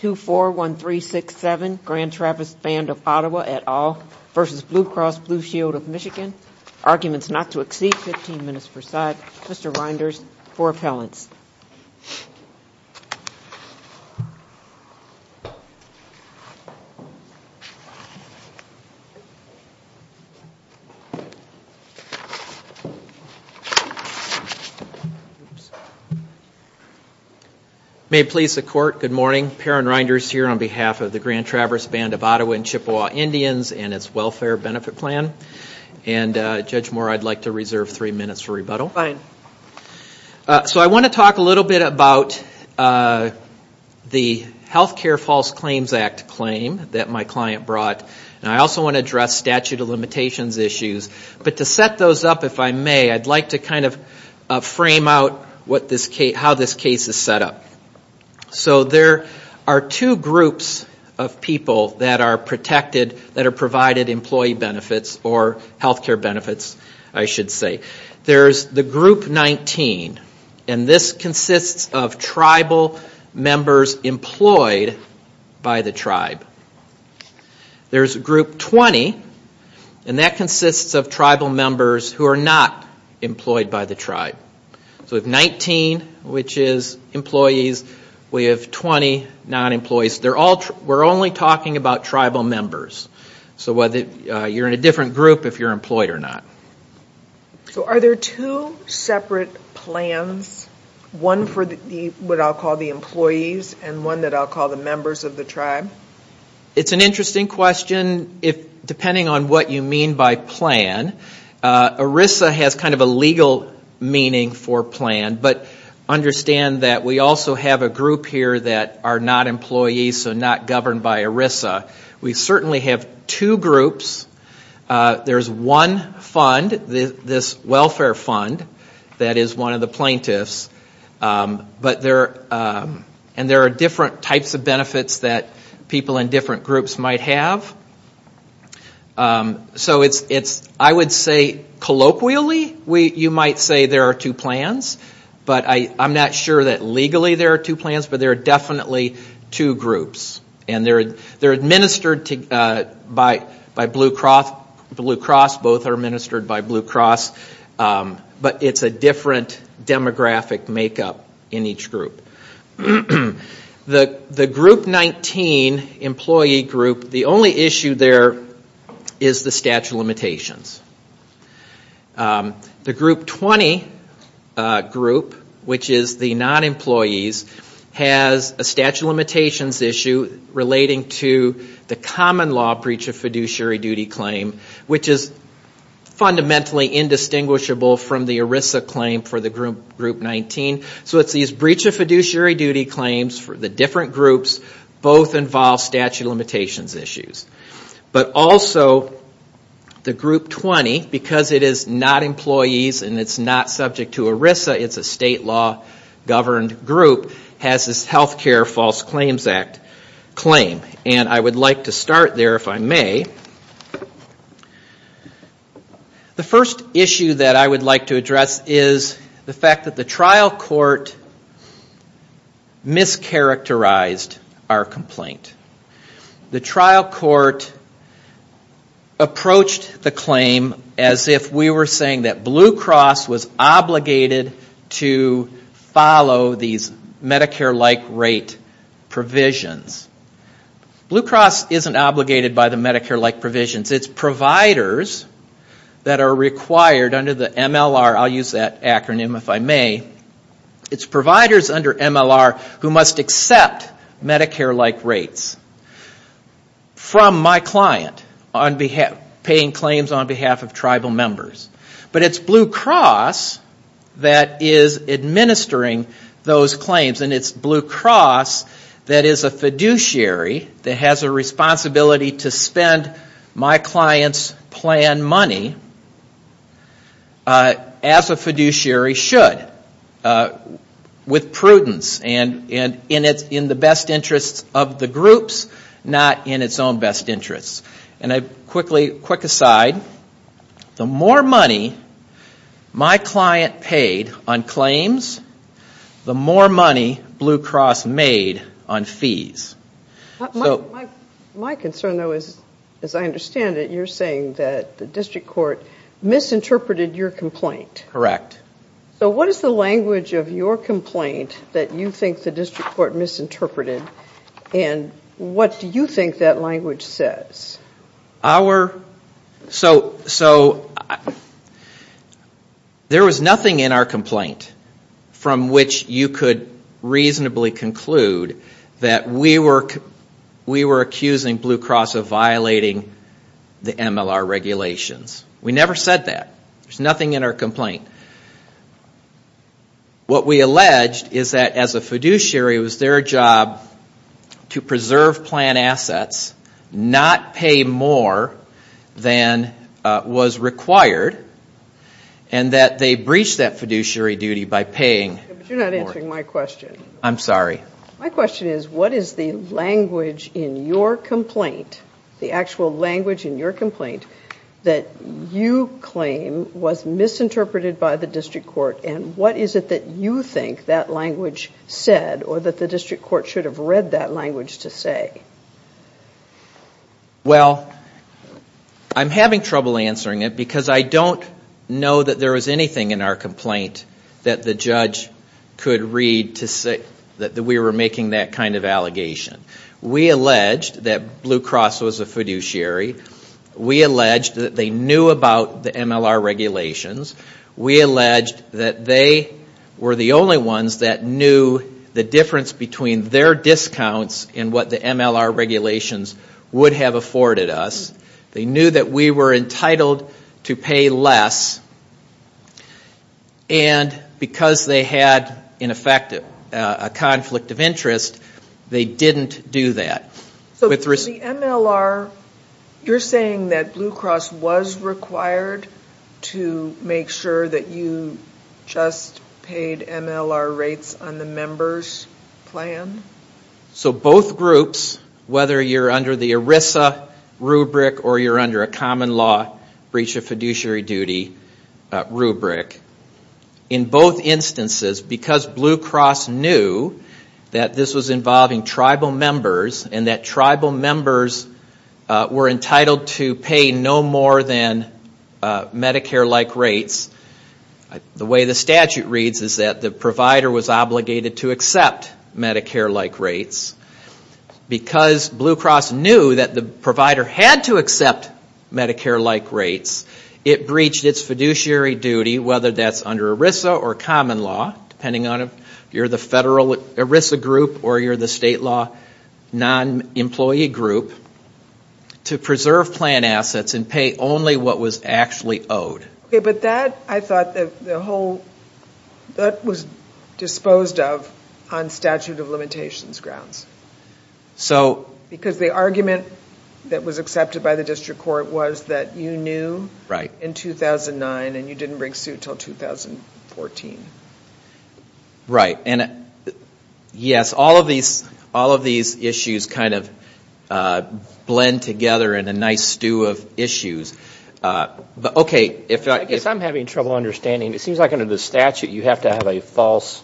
241367 Grand Traverse Band of Ottawa et al. v. Blue Cross Blue Shield of Michigan Arguments not to exceed 15 minutes per side. Mr. Reinders for appellants. May it please the Court, good morning. Perrin Reinders here on behalf of the Grand Traverse Band of Ottawa and Chippewa Indians and its Welfare Benefit Plan. And Judge Moore I'd like to reserve three minutes for rebuttal. Fine. So I want to talk a little bit about the Health Care False Claims Act claim that my client brought. And I also want to address statute of limitations issues. But to set those up if I may, I'd like to kind of frame out how this case is set up. So there are two groups of people that are protected, that are provided employee benefits or health care benefits I should say. There's the group 19 and this consists of tribal members employed by the tribe. There's group 20 and that consists of tribal members who are not employed by the tribe. So if 19 which is employees, we have 20 non-employees. We're only talking about tribal members. So whether you're in a different group if you're employed or not. So are there two separate plans? One for what I'll call the employees and one that I'll call the members of the tribe? It's an interesting question. Depending on what you mean by plan, ERISA has kind of a legal meaning for plan. But understand that we also have a group here that are not employees so not governed by ERISA. We certainly have two groups. There's one fund, this welfare fund that is one of the plaintiffs. And there are different types of benefits that people in different groups might have. So I would say colloquially you might say there are two plans but there are definitely two groups. And they're administered by Blue Cross. Both are administered by Blue Cross. But it's a different demographic makeup in each group. The group 19 employee group, the only issue there is the statute of limitations. The group 20 group, which is the non-employees, has a statute of limitations issue relating to the common law breach of fiduciary duty claim, which is fundamentally indistinguishable from the ERISA claim for the group 19. So it's these breach of fiduciary duty claims for the different groups. Both involve statute of limitations issues. But also the group 20, because it is not employees and it's not subject to ERISA, it's a state law governed group, has this health care false claims act claim. And I would like to start there if I may. The first issue that I would like to address is the fact that the trial court mischaracterized our complaint. The trial court approached the claim as if we were saying that Blue Cross was obligated to follow these Medicare-like rate provisions. Blue Cross isn't obligated by the Medicare-like provisions. It's providers that are required under the MLR, I'll use Medicare-like rates, from my client, paying claims on behalf of tribal members. But it's Blue Cross that is administering those claims and it's Blue Cross that is a fiduciary that has a responsibility to spend my client's plan money as a fiduciary should, with prudence and in the best interest of the groups, not in its own best interest. And a quick aside, the more money my client paid on claims, the more money Blue Cross made on fees. My concern though is, as I understand it, you're saying that the district court misinterpreted your complaint. Correct. So what is the language of your complaint that you think the district court misinterpreted and what do you think that language says? So there was nothing in our complaint from which you could reasonably conclude that we were accusing Blue Cross of violating the MLR regulations. We never said that. There's nothing in our complaint. What we alleged is that as a fiduciary, it was their job to preserve plan assets, not pay more than was required, and that they breached that fiduciary duty by paying more. You're interrupting my question. I'm sorry. My question is, what is the language in your complaint, the actual language in your complaint that you claim was misinterpreted by the district court and what is it that you think that language said or that the district court should have read that language to say? Well, I'm having trouble answering it because I don't know that there was anything in our complaint that the judge could read to say that we were making that kind of allegation. We alleged that Blue Cross was a fiduciary. We alleged that they knew about the MLR regulations. We alleged that they were the only ones that knew the difference between their discounts and what the MLR regulations would have afforded us. They knew that we were entitled to pay less and because they had, in effect, a conflict of interest, they didn't do that. So for the MLR, you're saying that Blue Cross was required to make sure that you just paid MLR rates on the member's plan? So both groups, whether you're under the ERISA rubric or you're under a common law breach of fiduciary duty rubric, in both instances, because Blue Cross knew that this was involving tribal members and that tribal members were entitled to pay no more than Medicare-like rates, the way the statute reads is that the provider was obligated to accept Medicare-like rates. Because Blue Cross knew that the provider had to accept Medicare-like rates, it breached its fiduciary duty, whether that's under ERISA or common law, depending on if you're the federal ERISA group or you're the state law non-employee group, to preserve plan assets and pay only what was actually owed. But that, I thought, the whole, that was disposed of on statute of limitations grounds. Because the argument that was accepted by the district court was that you knew in 2009 and you didn't bring suit until 2014. Right. And yes, all of these issues kind of blend together in a nice stew of issues. I guess I'm having trouble understanding. It seems like under the statute you have to have a false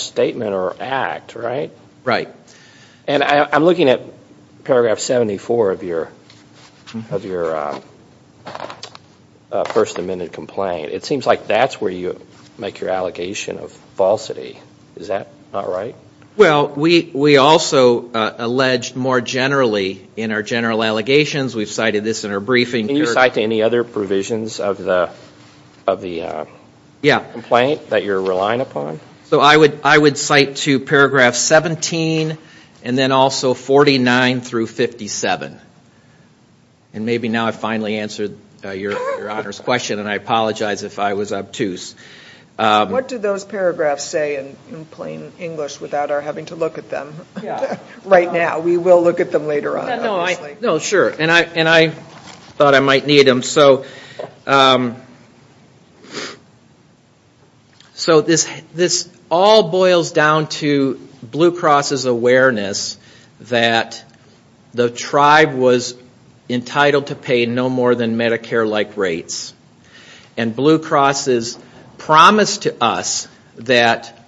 statement or act, right? Right. And I'm looking at paragraph 74 of your First Amendment complaint. It seems like that's where you make your allegation of falsity. Is that not right? Well, we also allege more generally in our general allegations, we've cited this in our briefing. Can you cite to any other provisions of the complaint that you're relying upon? So I would cite to paragraph 17 and then also 49 through 57. And maybe now I've finally answered your Honor's question and I apologize if I was obtuse. What do those paragraphs say in plain English without our having to look at them right now? We will look at them later on, obviously. No, sure. And I thought I might need them. So this all boils down to Blue Cross's awareness that the tribe was entitled to pay no more than Medicare-like rates. And Blue Cross's promise to us that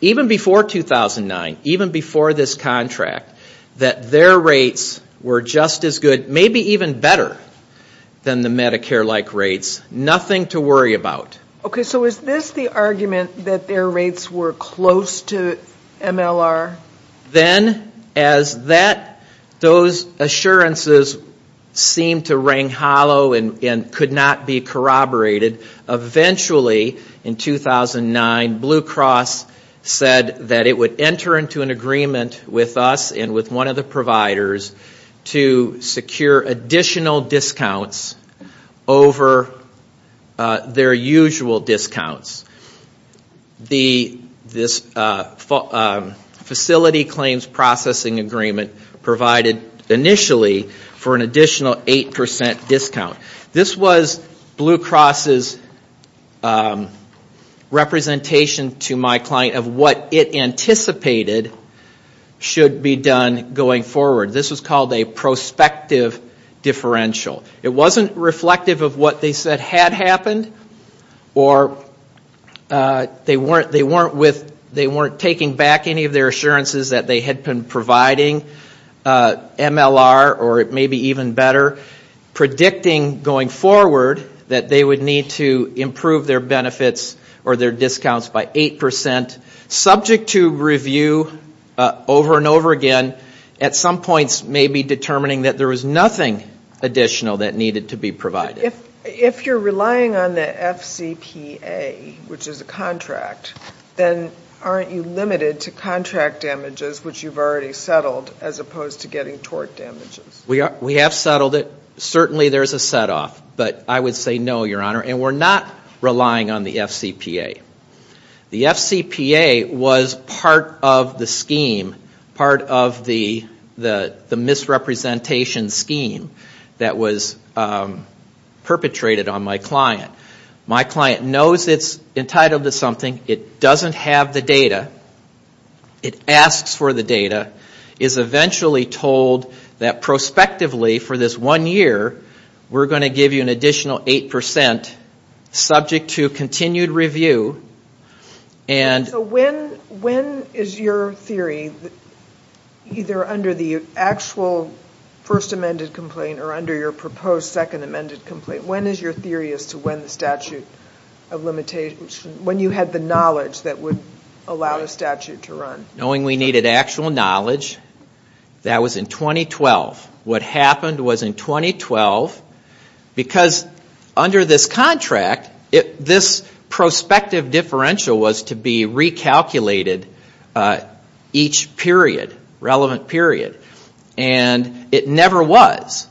even before 2009, even before this contract, that their rates were just as good, maybe even better than the Medicare-like rates. Nothing to worry about. Okay. So is this the argument that their rates were close to MLR? Then as those assurances seemed to rang hollow and could not be corroborated, eventually in 2009, Blue Cross said that it would enter into an agreement with us and with one of the providers to secure additional discounts over their usual discounts. The facility claims processing agreement provided initially for an additional 8% discount. This was Blue Cross's representation to my client of what it anticipated should be done going forward. This was called a prospective differential. It wasn't reflective of what they said had happened or they weren't taking back any of their assurances that they had been providing MLR or maybe even better, predicting going forward that they would need to improve their benefits or their discounts by 8%. Subject to review over and over again, it at some points may be determining that there was nothing additional that needed to be provided. If you're relying on the FCPA, which is a contract, then aren't you limited to contract damages, which you've already settled, as opposed to getting tort damages? We have settled it. Certainly there's a set-off, but I would say no, Your Honor, and we're not relying on the FCPA. The FCPA was part of the scheme, part of the contract. The misrepresentation scheme that was perpetrated on my client. My client knows it's entitled to something. It doesn't have the data. It asks for the data. It's eventually told that prospectively for this one year, we're going to give you an additional 8% subject to continued review. When is your theory, either under the actual first amended complaint or under your proposed second amended complaint, when is your theory as to when the statute of limitations, when you had the knowledge that would allow the statute to run? Knowing we needed actual knowledge, that was in 2012. What happened was in 2012, because under this contract, this prospective differential was to be recalculated each period, relevant period, and it never was.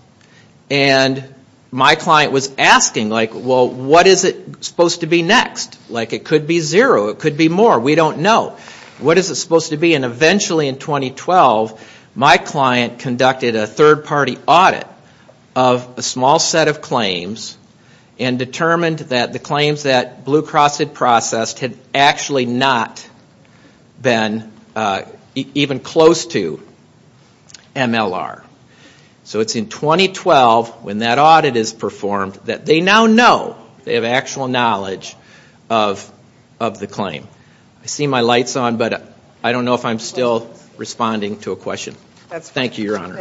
My client was asking, well, what is it supposed to be next? It could be zero. It could be more. We don't know. What is it supposed to be? Eventually in 2012, my client conducted a third party audit of a small set of claims and determined that the claims that Blue Cross had processed had actually not been even close to MLR. It's in 2012 when that audit is performed that they now know, they have actual knowledge of the claim. I see my lights on, but I don't know if I'm still responding to a question. Thank you, Your Honor.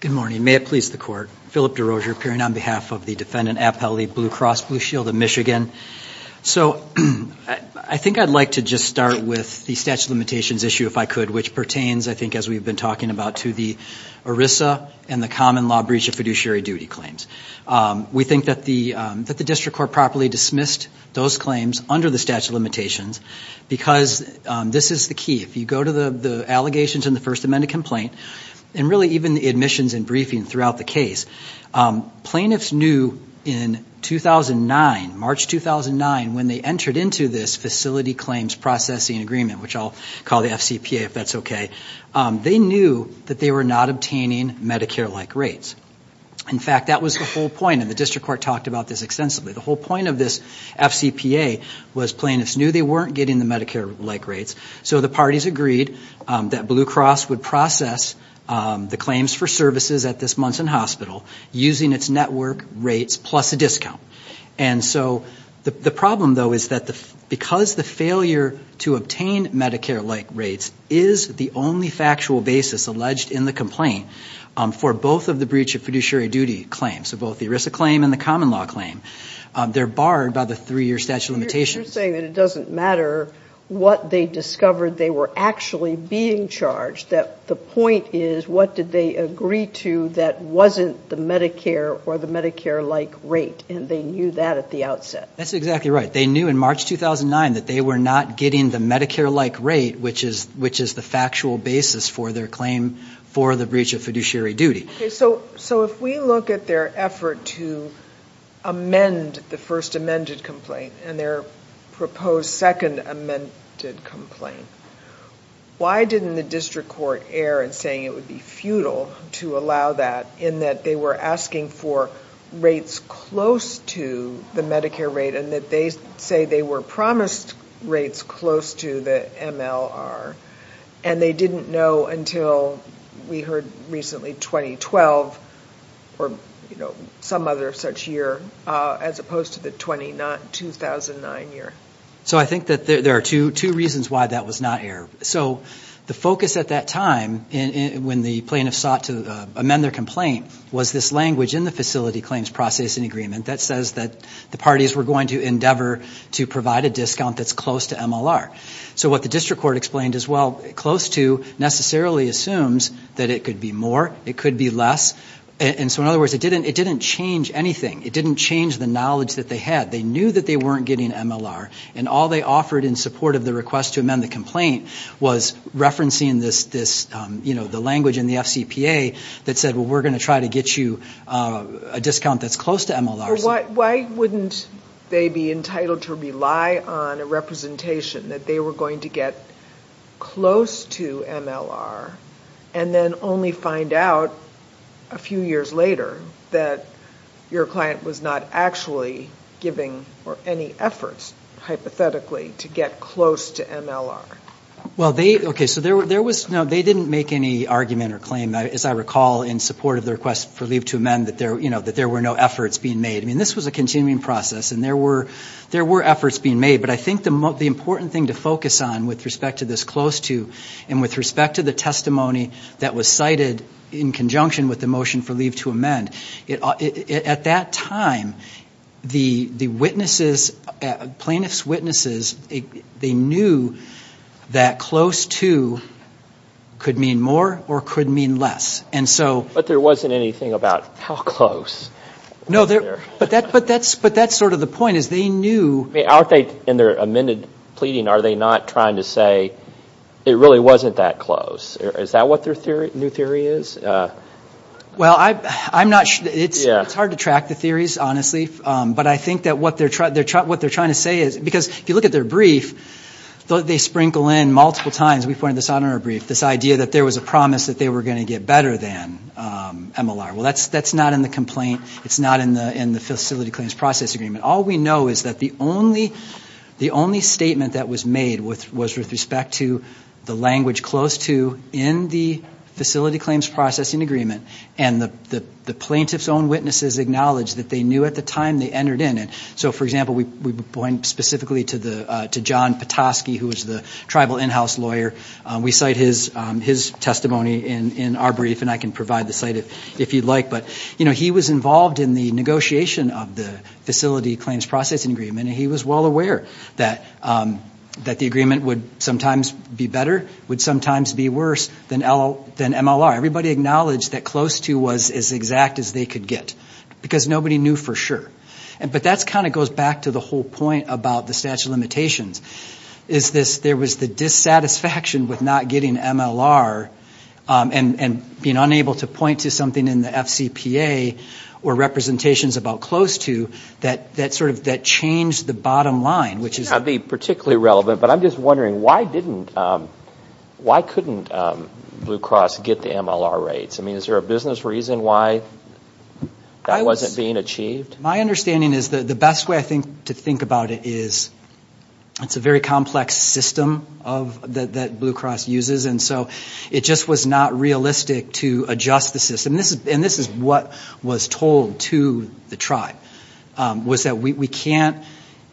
Good morning. May it please the Court. Philip DeRozier appearing on behalf of the defendant at Appellate League Blue Cross Blue Shield of Michigan. I think I'd like to just start with the statute of limitations issue, if I could, which pertains, I think as we've been talking about, to the ERISA and the common law breach of fiduciary duty claims. We think that the district court properly dismissed those claims under the statute of limitations because this is the key. If you go to the allegations in the First Amendment complaint, and really even the admissions and briefing throughout the case, plaintiffs knew in 2009, March 2009, when they entered into this facility claims processing agreement, which I'll call the FCPA if that's okay, they knew that they were not obtaining Medicare-like rates. In fact, that was the whole point, and the district court talked about this extensively. The whole point of this FCPA was plaintiffs knew they weren't getting the Medicare-like rates, so the parties agreed that Blue Cross would process the claims for services at this Munson Hospital using its network rates plus a discount. And so the problem, though, is that because the failure to obtain Medicare-like rates is the only factual basis alleged in the complaint for both of the breach of fiduciary duty claims, so both the ERISA claim and the common law claim, they're barred by the three-year statute of limitations. But you're saying that it doesn't matter what they discovered they were actually being charged, that the point is, what did they agree to that wasn't the Medicare or the Medicare-like rate, and they knew that at the outset. That's exactly right. They knew in March 2009 that they were not getting the Medicare-like rate, which is the factual basis for their claim for the breach of fiduciary duty. So if we look at their effort to amend the first amended complaint and their proposed second amended complaint, why didn't the district court err in saying it would be futile to allow that in that they were asking for rates close to the Medicare rate and that they say they were promised rates close to the MLR, and they didn't know until we heard recently 2012 or some other such year, as opposed to the 2009 year. So I think that there are two reasons why that was not error. So the focus at that time, when the plaintiff sought to amend their complaint, was this language in the facility claims process and agreement that says that the parties were going to endeavor to provide a discount that's close to MLR. So what the district court explained as well, close to necessarily assumes that it could be more, it could be less. And so in other words, it didn't change anything. It didn't change the knowledge that they had. They knew that they weren't getting MLR. And all they offered in support of the request to amend the complaint was referencing this language in the FCPA that said, well, we're going to try to get you a discount that's close to MLR. So why wouldn't they be entitled to rely on a representation that they were going to get close to MLR, and then only find out a few years later that your client was not actually giving any efforts, hypothetically, to get close to MLR? Well, they, okay, so there was, no, they didn't make any argument or claim, as I recall, in support of the request for leave to amend that there were no efforts being made. I mean, this was a continuing process, and there were efforts being made. But I think the important thing to focus on with respect to this close to, and with respect to the testimony that was cited in conjunction with the motion for leave to amend, at that time, the witnesses, plaintiffs' witnesses, they knew that close to could mean more or could mean less. And so... But there wasn't anything about how close? No, but that's sort of the point, is they knew... I mean, aren't they, in their amended pleading, are they not trying to say, it really wasn't that close? Is that what their new theory is? Well, I'm not, it's hard to track the theories, honestly. But I think that what they're trying to say is, because if you look at their brief, they sprinkle in multiple times, we pointed this out in our brief, this idea that there was a promise that they were going to get better than MLR. Well, that's not in the complaint. It's not in the facility claims process agreement. All we know is that the only statement that was made was with respect to the language close to in the facility claims processing agreement, and the plaintiff's own witnesses acknowledged that they knew at the time they entered in. And so, for example, we point specifically to John Petoskey, who was the tribal in-house lawyer. We cite his testimony in our brief, and I can provide the site if you'd like. He was involved in the negotiation of the facility claims processing agreement, and he was well aware that the agreement would sometimes be better, would sometimes be worse than MLR. Everybody acknowledged that close to was as exact as they could get, because nobody knew for sure. But that kind of goes back to the whole point about the statute of limitations. There was the dissatisfaction with not getting MLR, and being unable to point to something in the FCPA or representations about close to that sort of changed the bottom line, which is... This may not be particularly relevant, but I'm just wondering, why couldn't Blue Cross get the MLR rates? I mean, is there a business reason why that wasn't being achieved? My understanding is that the best way, I think, to think about it is it's a very complex system that Blue Cross uses, and so it just was not realistic to adjust the system. And this is what was told to the tribe, was that we can't...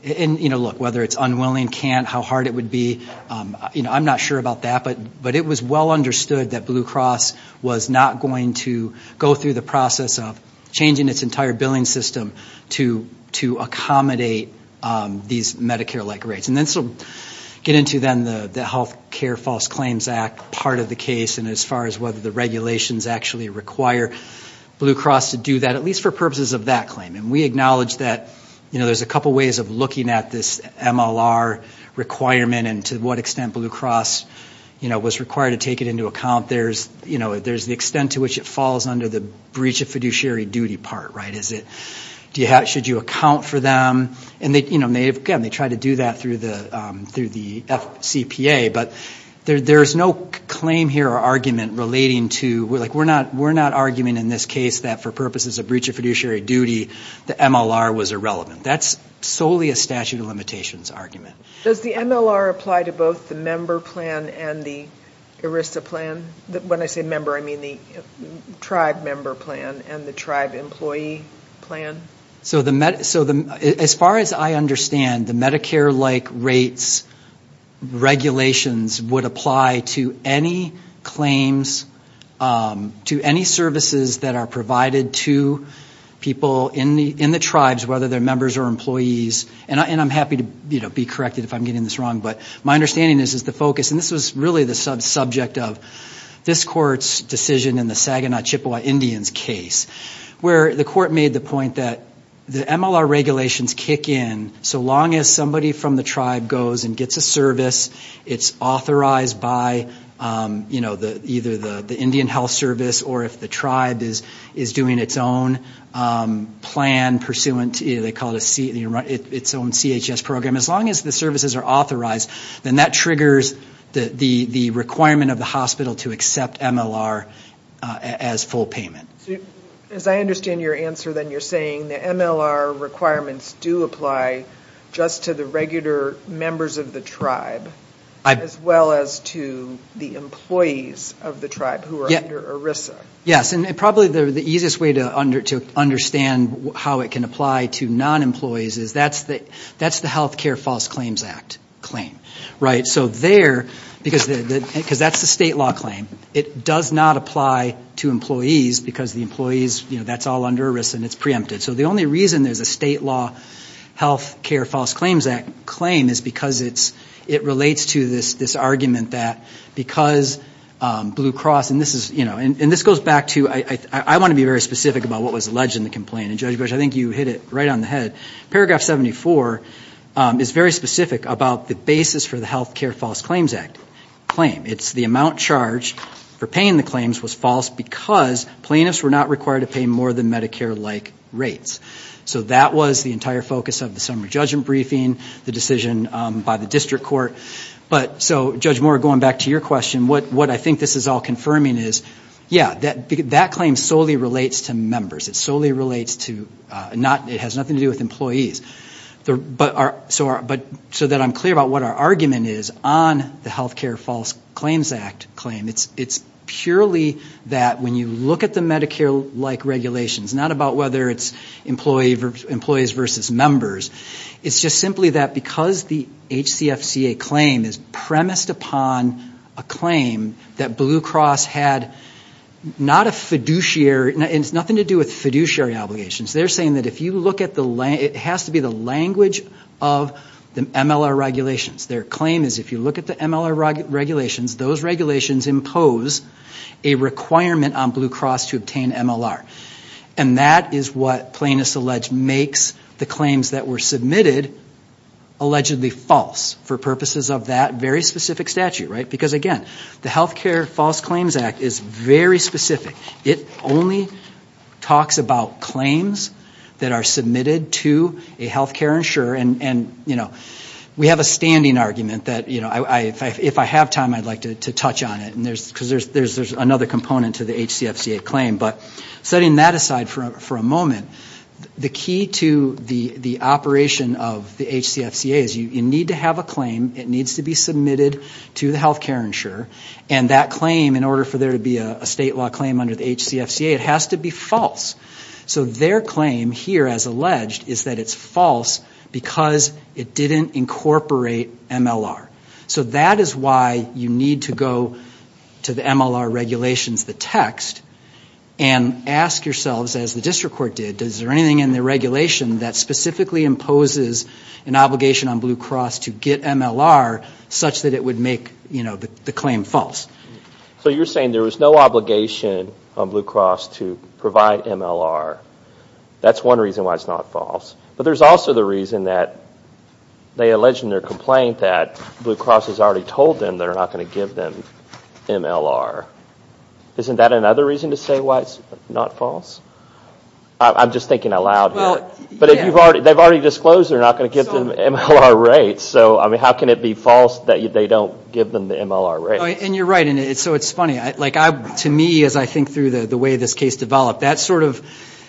Look, whether it's unwilling, can't, how hard it would be, I'm not sure about that, but it was well understood that Blue Cross was not going to go through the process of changing its entire billing system to accommodate these Medicare-like rates. And then to get into, then, the Health Care False Claims Act part of the case, and as far as whether the regulations actually require Blue Cross to do that, at least for purposes of that claim. And we acknowledge that there's a couple ways of looking at this MLR requirement and to what extent Blue Cross was required to take it into account. There's the extent to which it falls under the breach of fiduciary duty part, right? Is it... Should you account for them? And again, they tried to do that through the FCPA, but there's no claim here or argument relating to... We're not arguing in this case that for purposes of breach of fiduciary duty, the MLR was irrelevant. That's solely a statute of limitations argument. Does the MLR apply to both the member plan and the ERISA plan? When I say member, I mean the tribe member plan and the tribe employee plan? So as far as I understand, the Medicare-like rates regulations would apply to any claims, to any services that are provided to people in the tribes, whether they're members or employees. And I'm happy to be corrected if I'm getting this wrong, but my understanding is the focus, and this was really the subject of this court's decision in the Saginaw Chippewa Indians case, where the court made the point that the MLR regulations kick in so long as somebody from the tribe goes and gets a service, it's authorized by either the Indian Health Service or if the tribe is doing its own plan pursuant to... They call it its own CHS program. As long as the services are authorized, then that triggers the requirement of the hospital to accept MLR as full payment. As I understand your answer, then you're saying the MLR requirements do apply just to the regular members of the tribe, as well as to the employees of the tribe who are under ERISA? Yes, and probably the easiest way to understand how it can apply to non-employees is that's the Health Care False Claims Act claim, because that's the state law claim. It does not apply to employees because the employees, that's all under ERISA and it's preempted. So the only reason there's a state law Health Care False Claims Act claim is because it relates to this argument that because Blue Cross, and this goes back to... I want to be very specific about what was alleged in the complaint, and Judge Bush, I think you hit it right on the head. Paragraph 74 is very specific about the basis for the Health Care False Claims Act claim. It's the amount charged for paying the claims was false because plaintiffs were not required to pay more than Medicare-like rates. So that was the entire focus of the summary judgment briefing, the decision by the district court. So Judge Moore, going back to your question, what I think this is all confirming is, yeah, that claim solely relates to members. It has nothing to do with employees. So that I'm clear about what our argument is on the Health Care False Claims Act claim, it's purely that when you look at the Medicare-like regulations, not about whether it's employees versus members, it's just simply that because the HCFCA claim is premised upon a claim that Blue Cross had not a fiduciary... and it's nothing to do with fiduciary obligations. They're saying that if you look at the... it has to be the language of the MLR regulations. Their claim is if you look at the MLR regulations, those regulations impose a requirement on Blue Cross to obtain MLR. And that is what plaintiffs allege makes the claims that were submitted allegedly false for purposes of that very specific statute, right? Because again, the Health Care False Claims Act is very specific. It only talks about claims that are submitted to a health care insurer and, you know, we have a standing argument that, you know, if I have time, I'd like to touch on it because there's another component to the HCFCA claim. But setting that aside for a moment, the key to the operation of the HCFCA is you need to have a claim, it needs to be submitted to the health care insurer, and that claim in order for there to be a state law claim under the HCFCA, it has to be false. So their claim here as alleged is that it's false because it didn't incorporate MLR. So that is why you need to go to the MLR regulations, the text, and ask yourselves, as the district court did, is there anything in the regulation that specifically imposes an obligation on Blue Cross to get MLR such that it would make, you know, the claim false? So you're saying there was no obligation on Blue Cross to provide MLR. That's one reason why it's not false. But there's also the reason that they allege in their complaint that Blue Cross has already told them they're not going to give them MLR. Isn't that another reason to say why it's not false? I'm just thinking aloud here. But they've already disclosed they're not going to give them MLR rates. So how can it be false that they don't give them the MLR rates? And you're right. So it's funny. To me, as I think through the way this case developed, that sort of,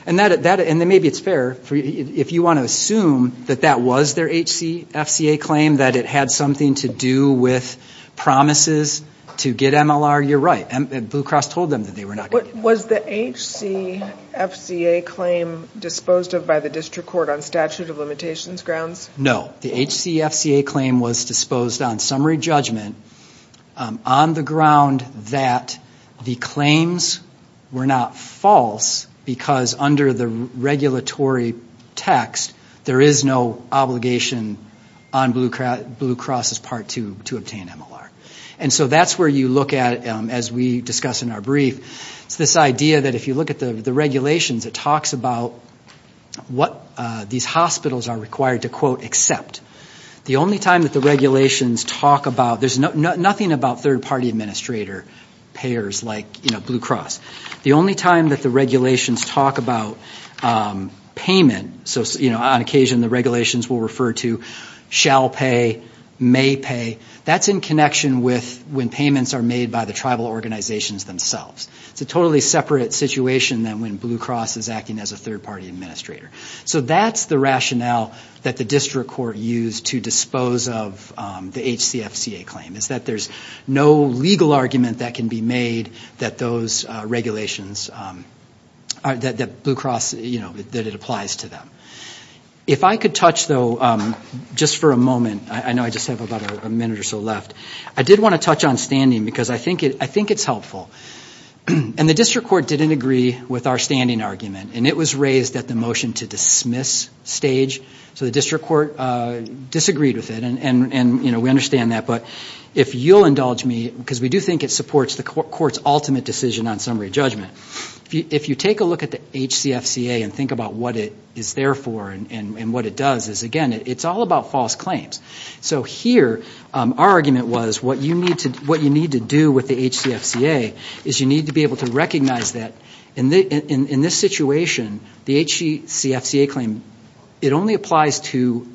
and maybe it's fair, if you want to assume that that was their HCFCA claim, that it had something to do with promises to get MLR, you're right. Blue Cross told them that they were not going to get MLR. Was the HCFCA claim disposed of by the district court on statute of limitations grounds? No. The HCFCA claim was disposed on summary judgment on the ground that the claims were not false because under the regulatory text there is no obligation on Blue Cross's part to obtain MLR. And so that's where you look at it as we discuss in our brief. It's this idea that if you look at the regulations it talks about what these hospitals are required to quote, accept. The only time that the regulations talk about, there's nothing about third party administrator payers like Blue Cross. The only time that the regulations talk about payment, so on occasion the regulations will refer to shall pay, may pay, that's in connection with when payments are made by the tribal organizations themselves. It's a totally separate situation than when Blue Cross is acting as a third party administrator. So that's the rationale that the district court used to dispose of the HCFCA claim, is that there's no legal argument that can be made that those regulations, that Blue Cross, you know, that it applies to them. If I could touch though, just for a moment, I know I just have about a minute or so left, I did think it's helpful. And the district court didn't agree with our standing argument. And it was raised at the motion to dismiss stage. So the district court disagreed with it. And we understand that. But if you'll indulge me, because we do think it supports the court's ultimate decision on summary judgment. If you take a look at the HCFCA and think about what it is there for and what it does, is again, it's all about false claims. So here our argument was what you need to do with the HCFCA is you need to be able to recognize that in this situation, the HCFCA claim, it only applies to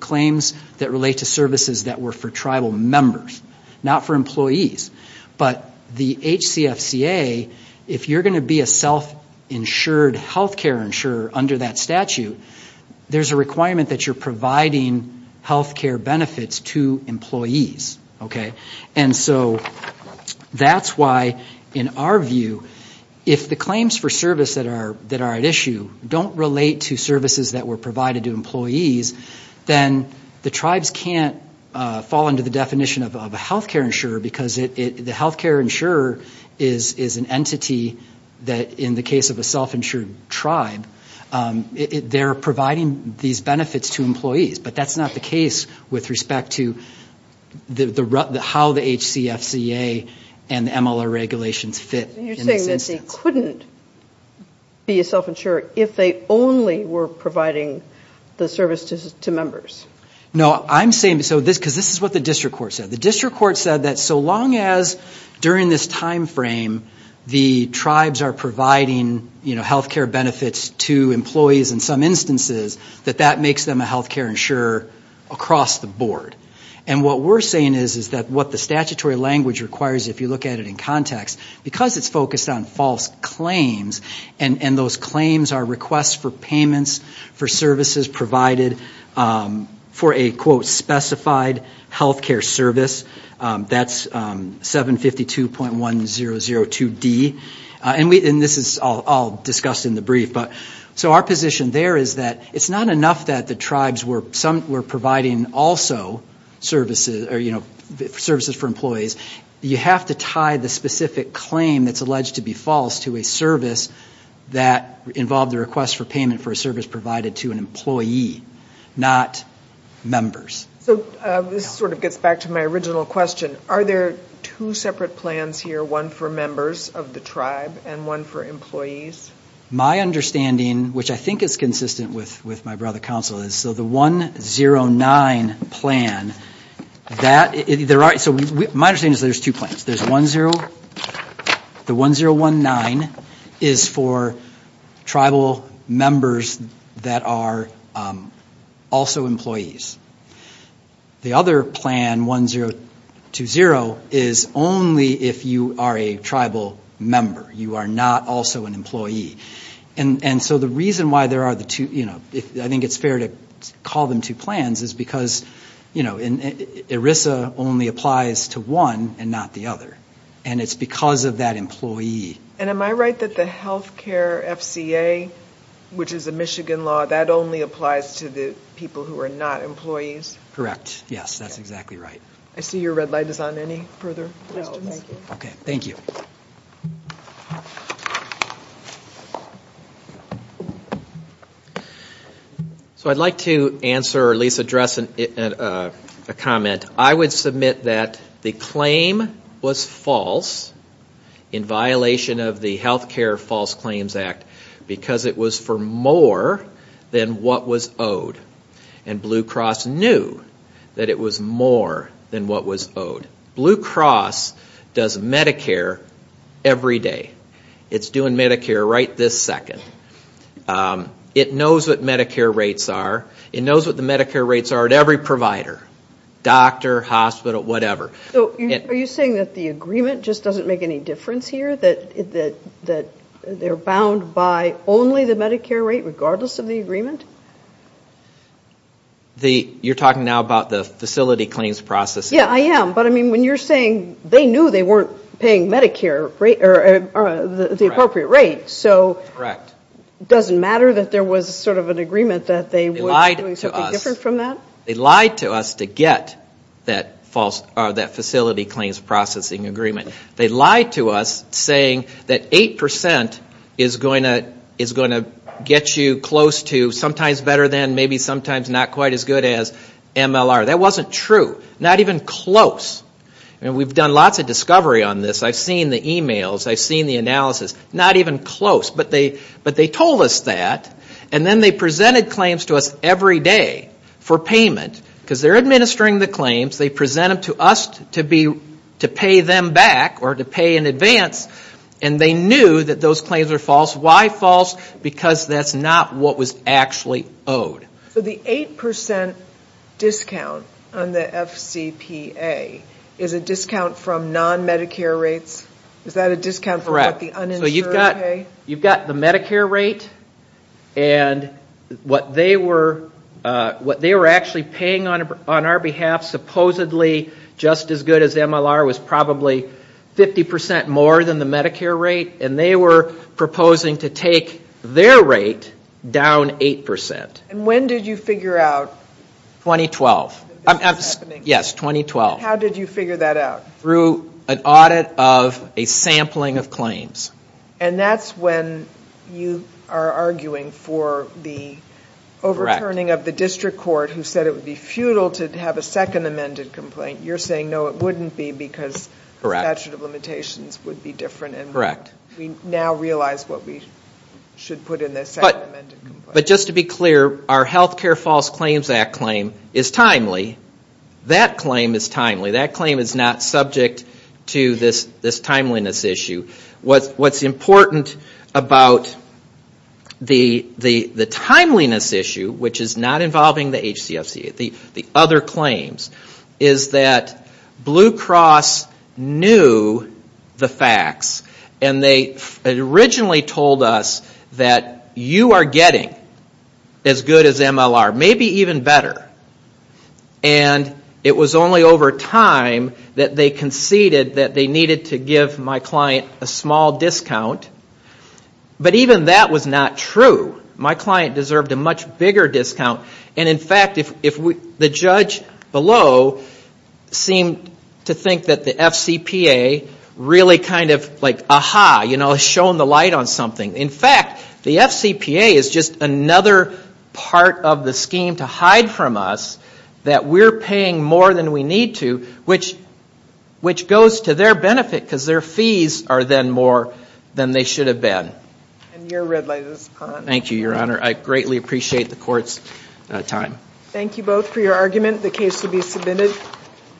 claims that relate to services that were for tribal members, not for employees. But the HCFCA, if you're going to be a self-insured health care insurer under that statute, there's a requirement that you're providing health care benefits to employees. And so that's why in our view, if the claims for service that are at issue don't relate to services that were provided to employees, then the tribes can't fall under the definition of a health care insurer because the health care insurer is an entity that in the case of a self-insured tribe, they're providing these with respect to how the HCFCA and the MLR regulations fit in this instance. You're saying that they couldn't be a self-insurer if they only were providing the service to members? No, I'm saying, because this is what the district court said. The district court said that so long as during this time frame, the tribes are providing health care benefits to employees in some instances, that that makes them a health care insurer across the board. And what we're saying is that what the statutory language requires, if you look at it in context, because it's focused on false claims and those claims are requests for payments for services provided for a quote specified health care service, that's 752.1002D. And this is all in the brief. So our position there is that it's not enough that the tribes were providing also services for employees. You have to tie the specific claim that's alleged to be false to a service that involved a request for payment for a service provided to an employee, not members. So this sort of gets back to my original question. Are there two separate plans here, one for members of the tribe and one for employees? My understanding, which I think is consistent with my brother counsel, is so the 109 plan, that there are, so my understanding is there's two plans. There's 10, the 1019 is for tribal members that are also employees. The other plan, 1020, is only if you are a tribal member you are not also an employee. And so the reason why there are the two, I think it's fair to call them two plans, is because ERISA only applies to one and not the other. And it's because of that employee. And am I right that the health care FCA, which is a Michigan law, that only applies to the people who are not employees? Correct. Yes, that's exactly right. I see your red light is on any further questions? No, thank you. Okay, thank you. So I'd like to answer, or at least address a comment. I would submit that the claim was false in violation of the Health Care False Claims Act because it was for more than what was owed. And Blue Cross knew that it was more than what was owed. Blue Cross doesn't do Medicare every day. It's doing Medicare right this second. It knows what Medicare rates are. It knows what the Medicare rates are at every provider, doctor, hospital, whatever. So are you saying that the agreement just doesn't make any difference here, that they are bound by only the Medicare rate regardless of the agreement? You're talking now about the facility claims process? Yeah, I am. But I mean, when you're saying they knew they weren't paying Medicare, the appropriate rate, so it doesn't matter that there was sort of an agreement that they were doing something different from that? They lied to us to get that facility claims processing agreement. They lied to us saying that 8% is going to get you close to, sometimes better than, maybe sometimes not quite as MLR. That wasn't true. Not even close. We've done lots of discovery on this. I've seen the emails. I've seen the analysis. Not even close. But they told us that. And then they presented claims to us every day for payment because they're administering the claims. They present them to us to pay them back or to pay in advance. And they knew that those claims were false. Why false? Because that's not what was actually owed. So the 8% discount on the FCPA is a discount from non-Medicare rates? Is that a discount from what the uninsured pay? You've got the Medicare rate and what they were actually paying on our behalf, supposedly just as good as MLR, was probably 50% more than the Medicare rate. And they were proposing to take their rate down 8%. And when did you figure out that this was happening? 2012. Yes, 2012. How did you figure that out? Through an audit of a sampling of claims. And that's when you are arguing for the overturning of the district court who said it would be futile to have a second amended complaint. You're saying, no, it wouldn't be because the statute of limitations would be different and we now realize what we should put in the second amended complaint. But just to be clear, our Health Care False Claims Act claim is timely. That claim is timely. That claim is not subject to this timeliness issue. What's important about the timeliness issue, which is not involving the HCFCA, the other claims, is that Blue Cross knew the facts and they originally told us that you are getting as good as MLR, maybe even better. And it was only over time that they conceded that they needed to give my client a small discount. But even that was not true. My client deserved a much bigger discount. And in fact, the judge below seemed to think that the FCPA really kind of like, aha, you know, shone the light on something. In fact, the FCPA is just another part of the scheme to hide from us that we are paying more than we need to, which goes to their benefit because their fees are then more than they should have been. Thank you, Your Honor. I greatly appreciate the court's time. Thank you both for your argument. The case will be submitted.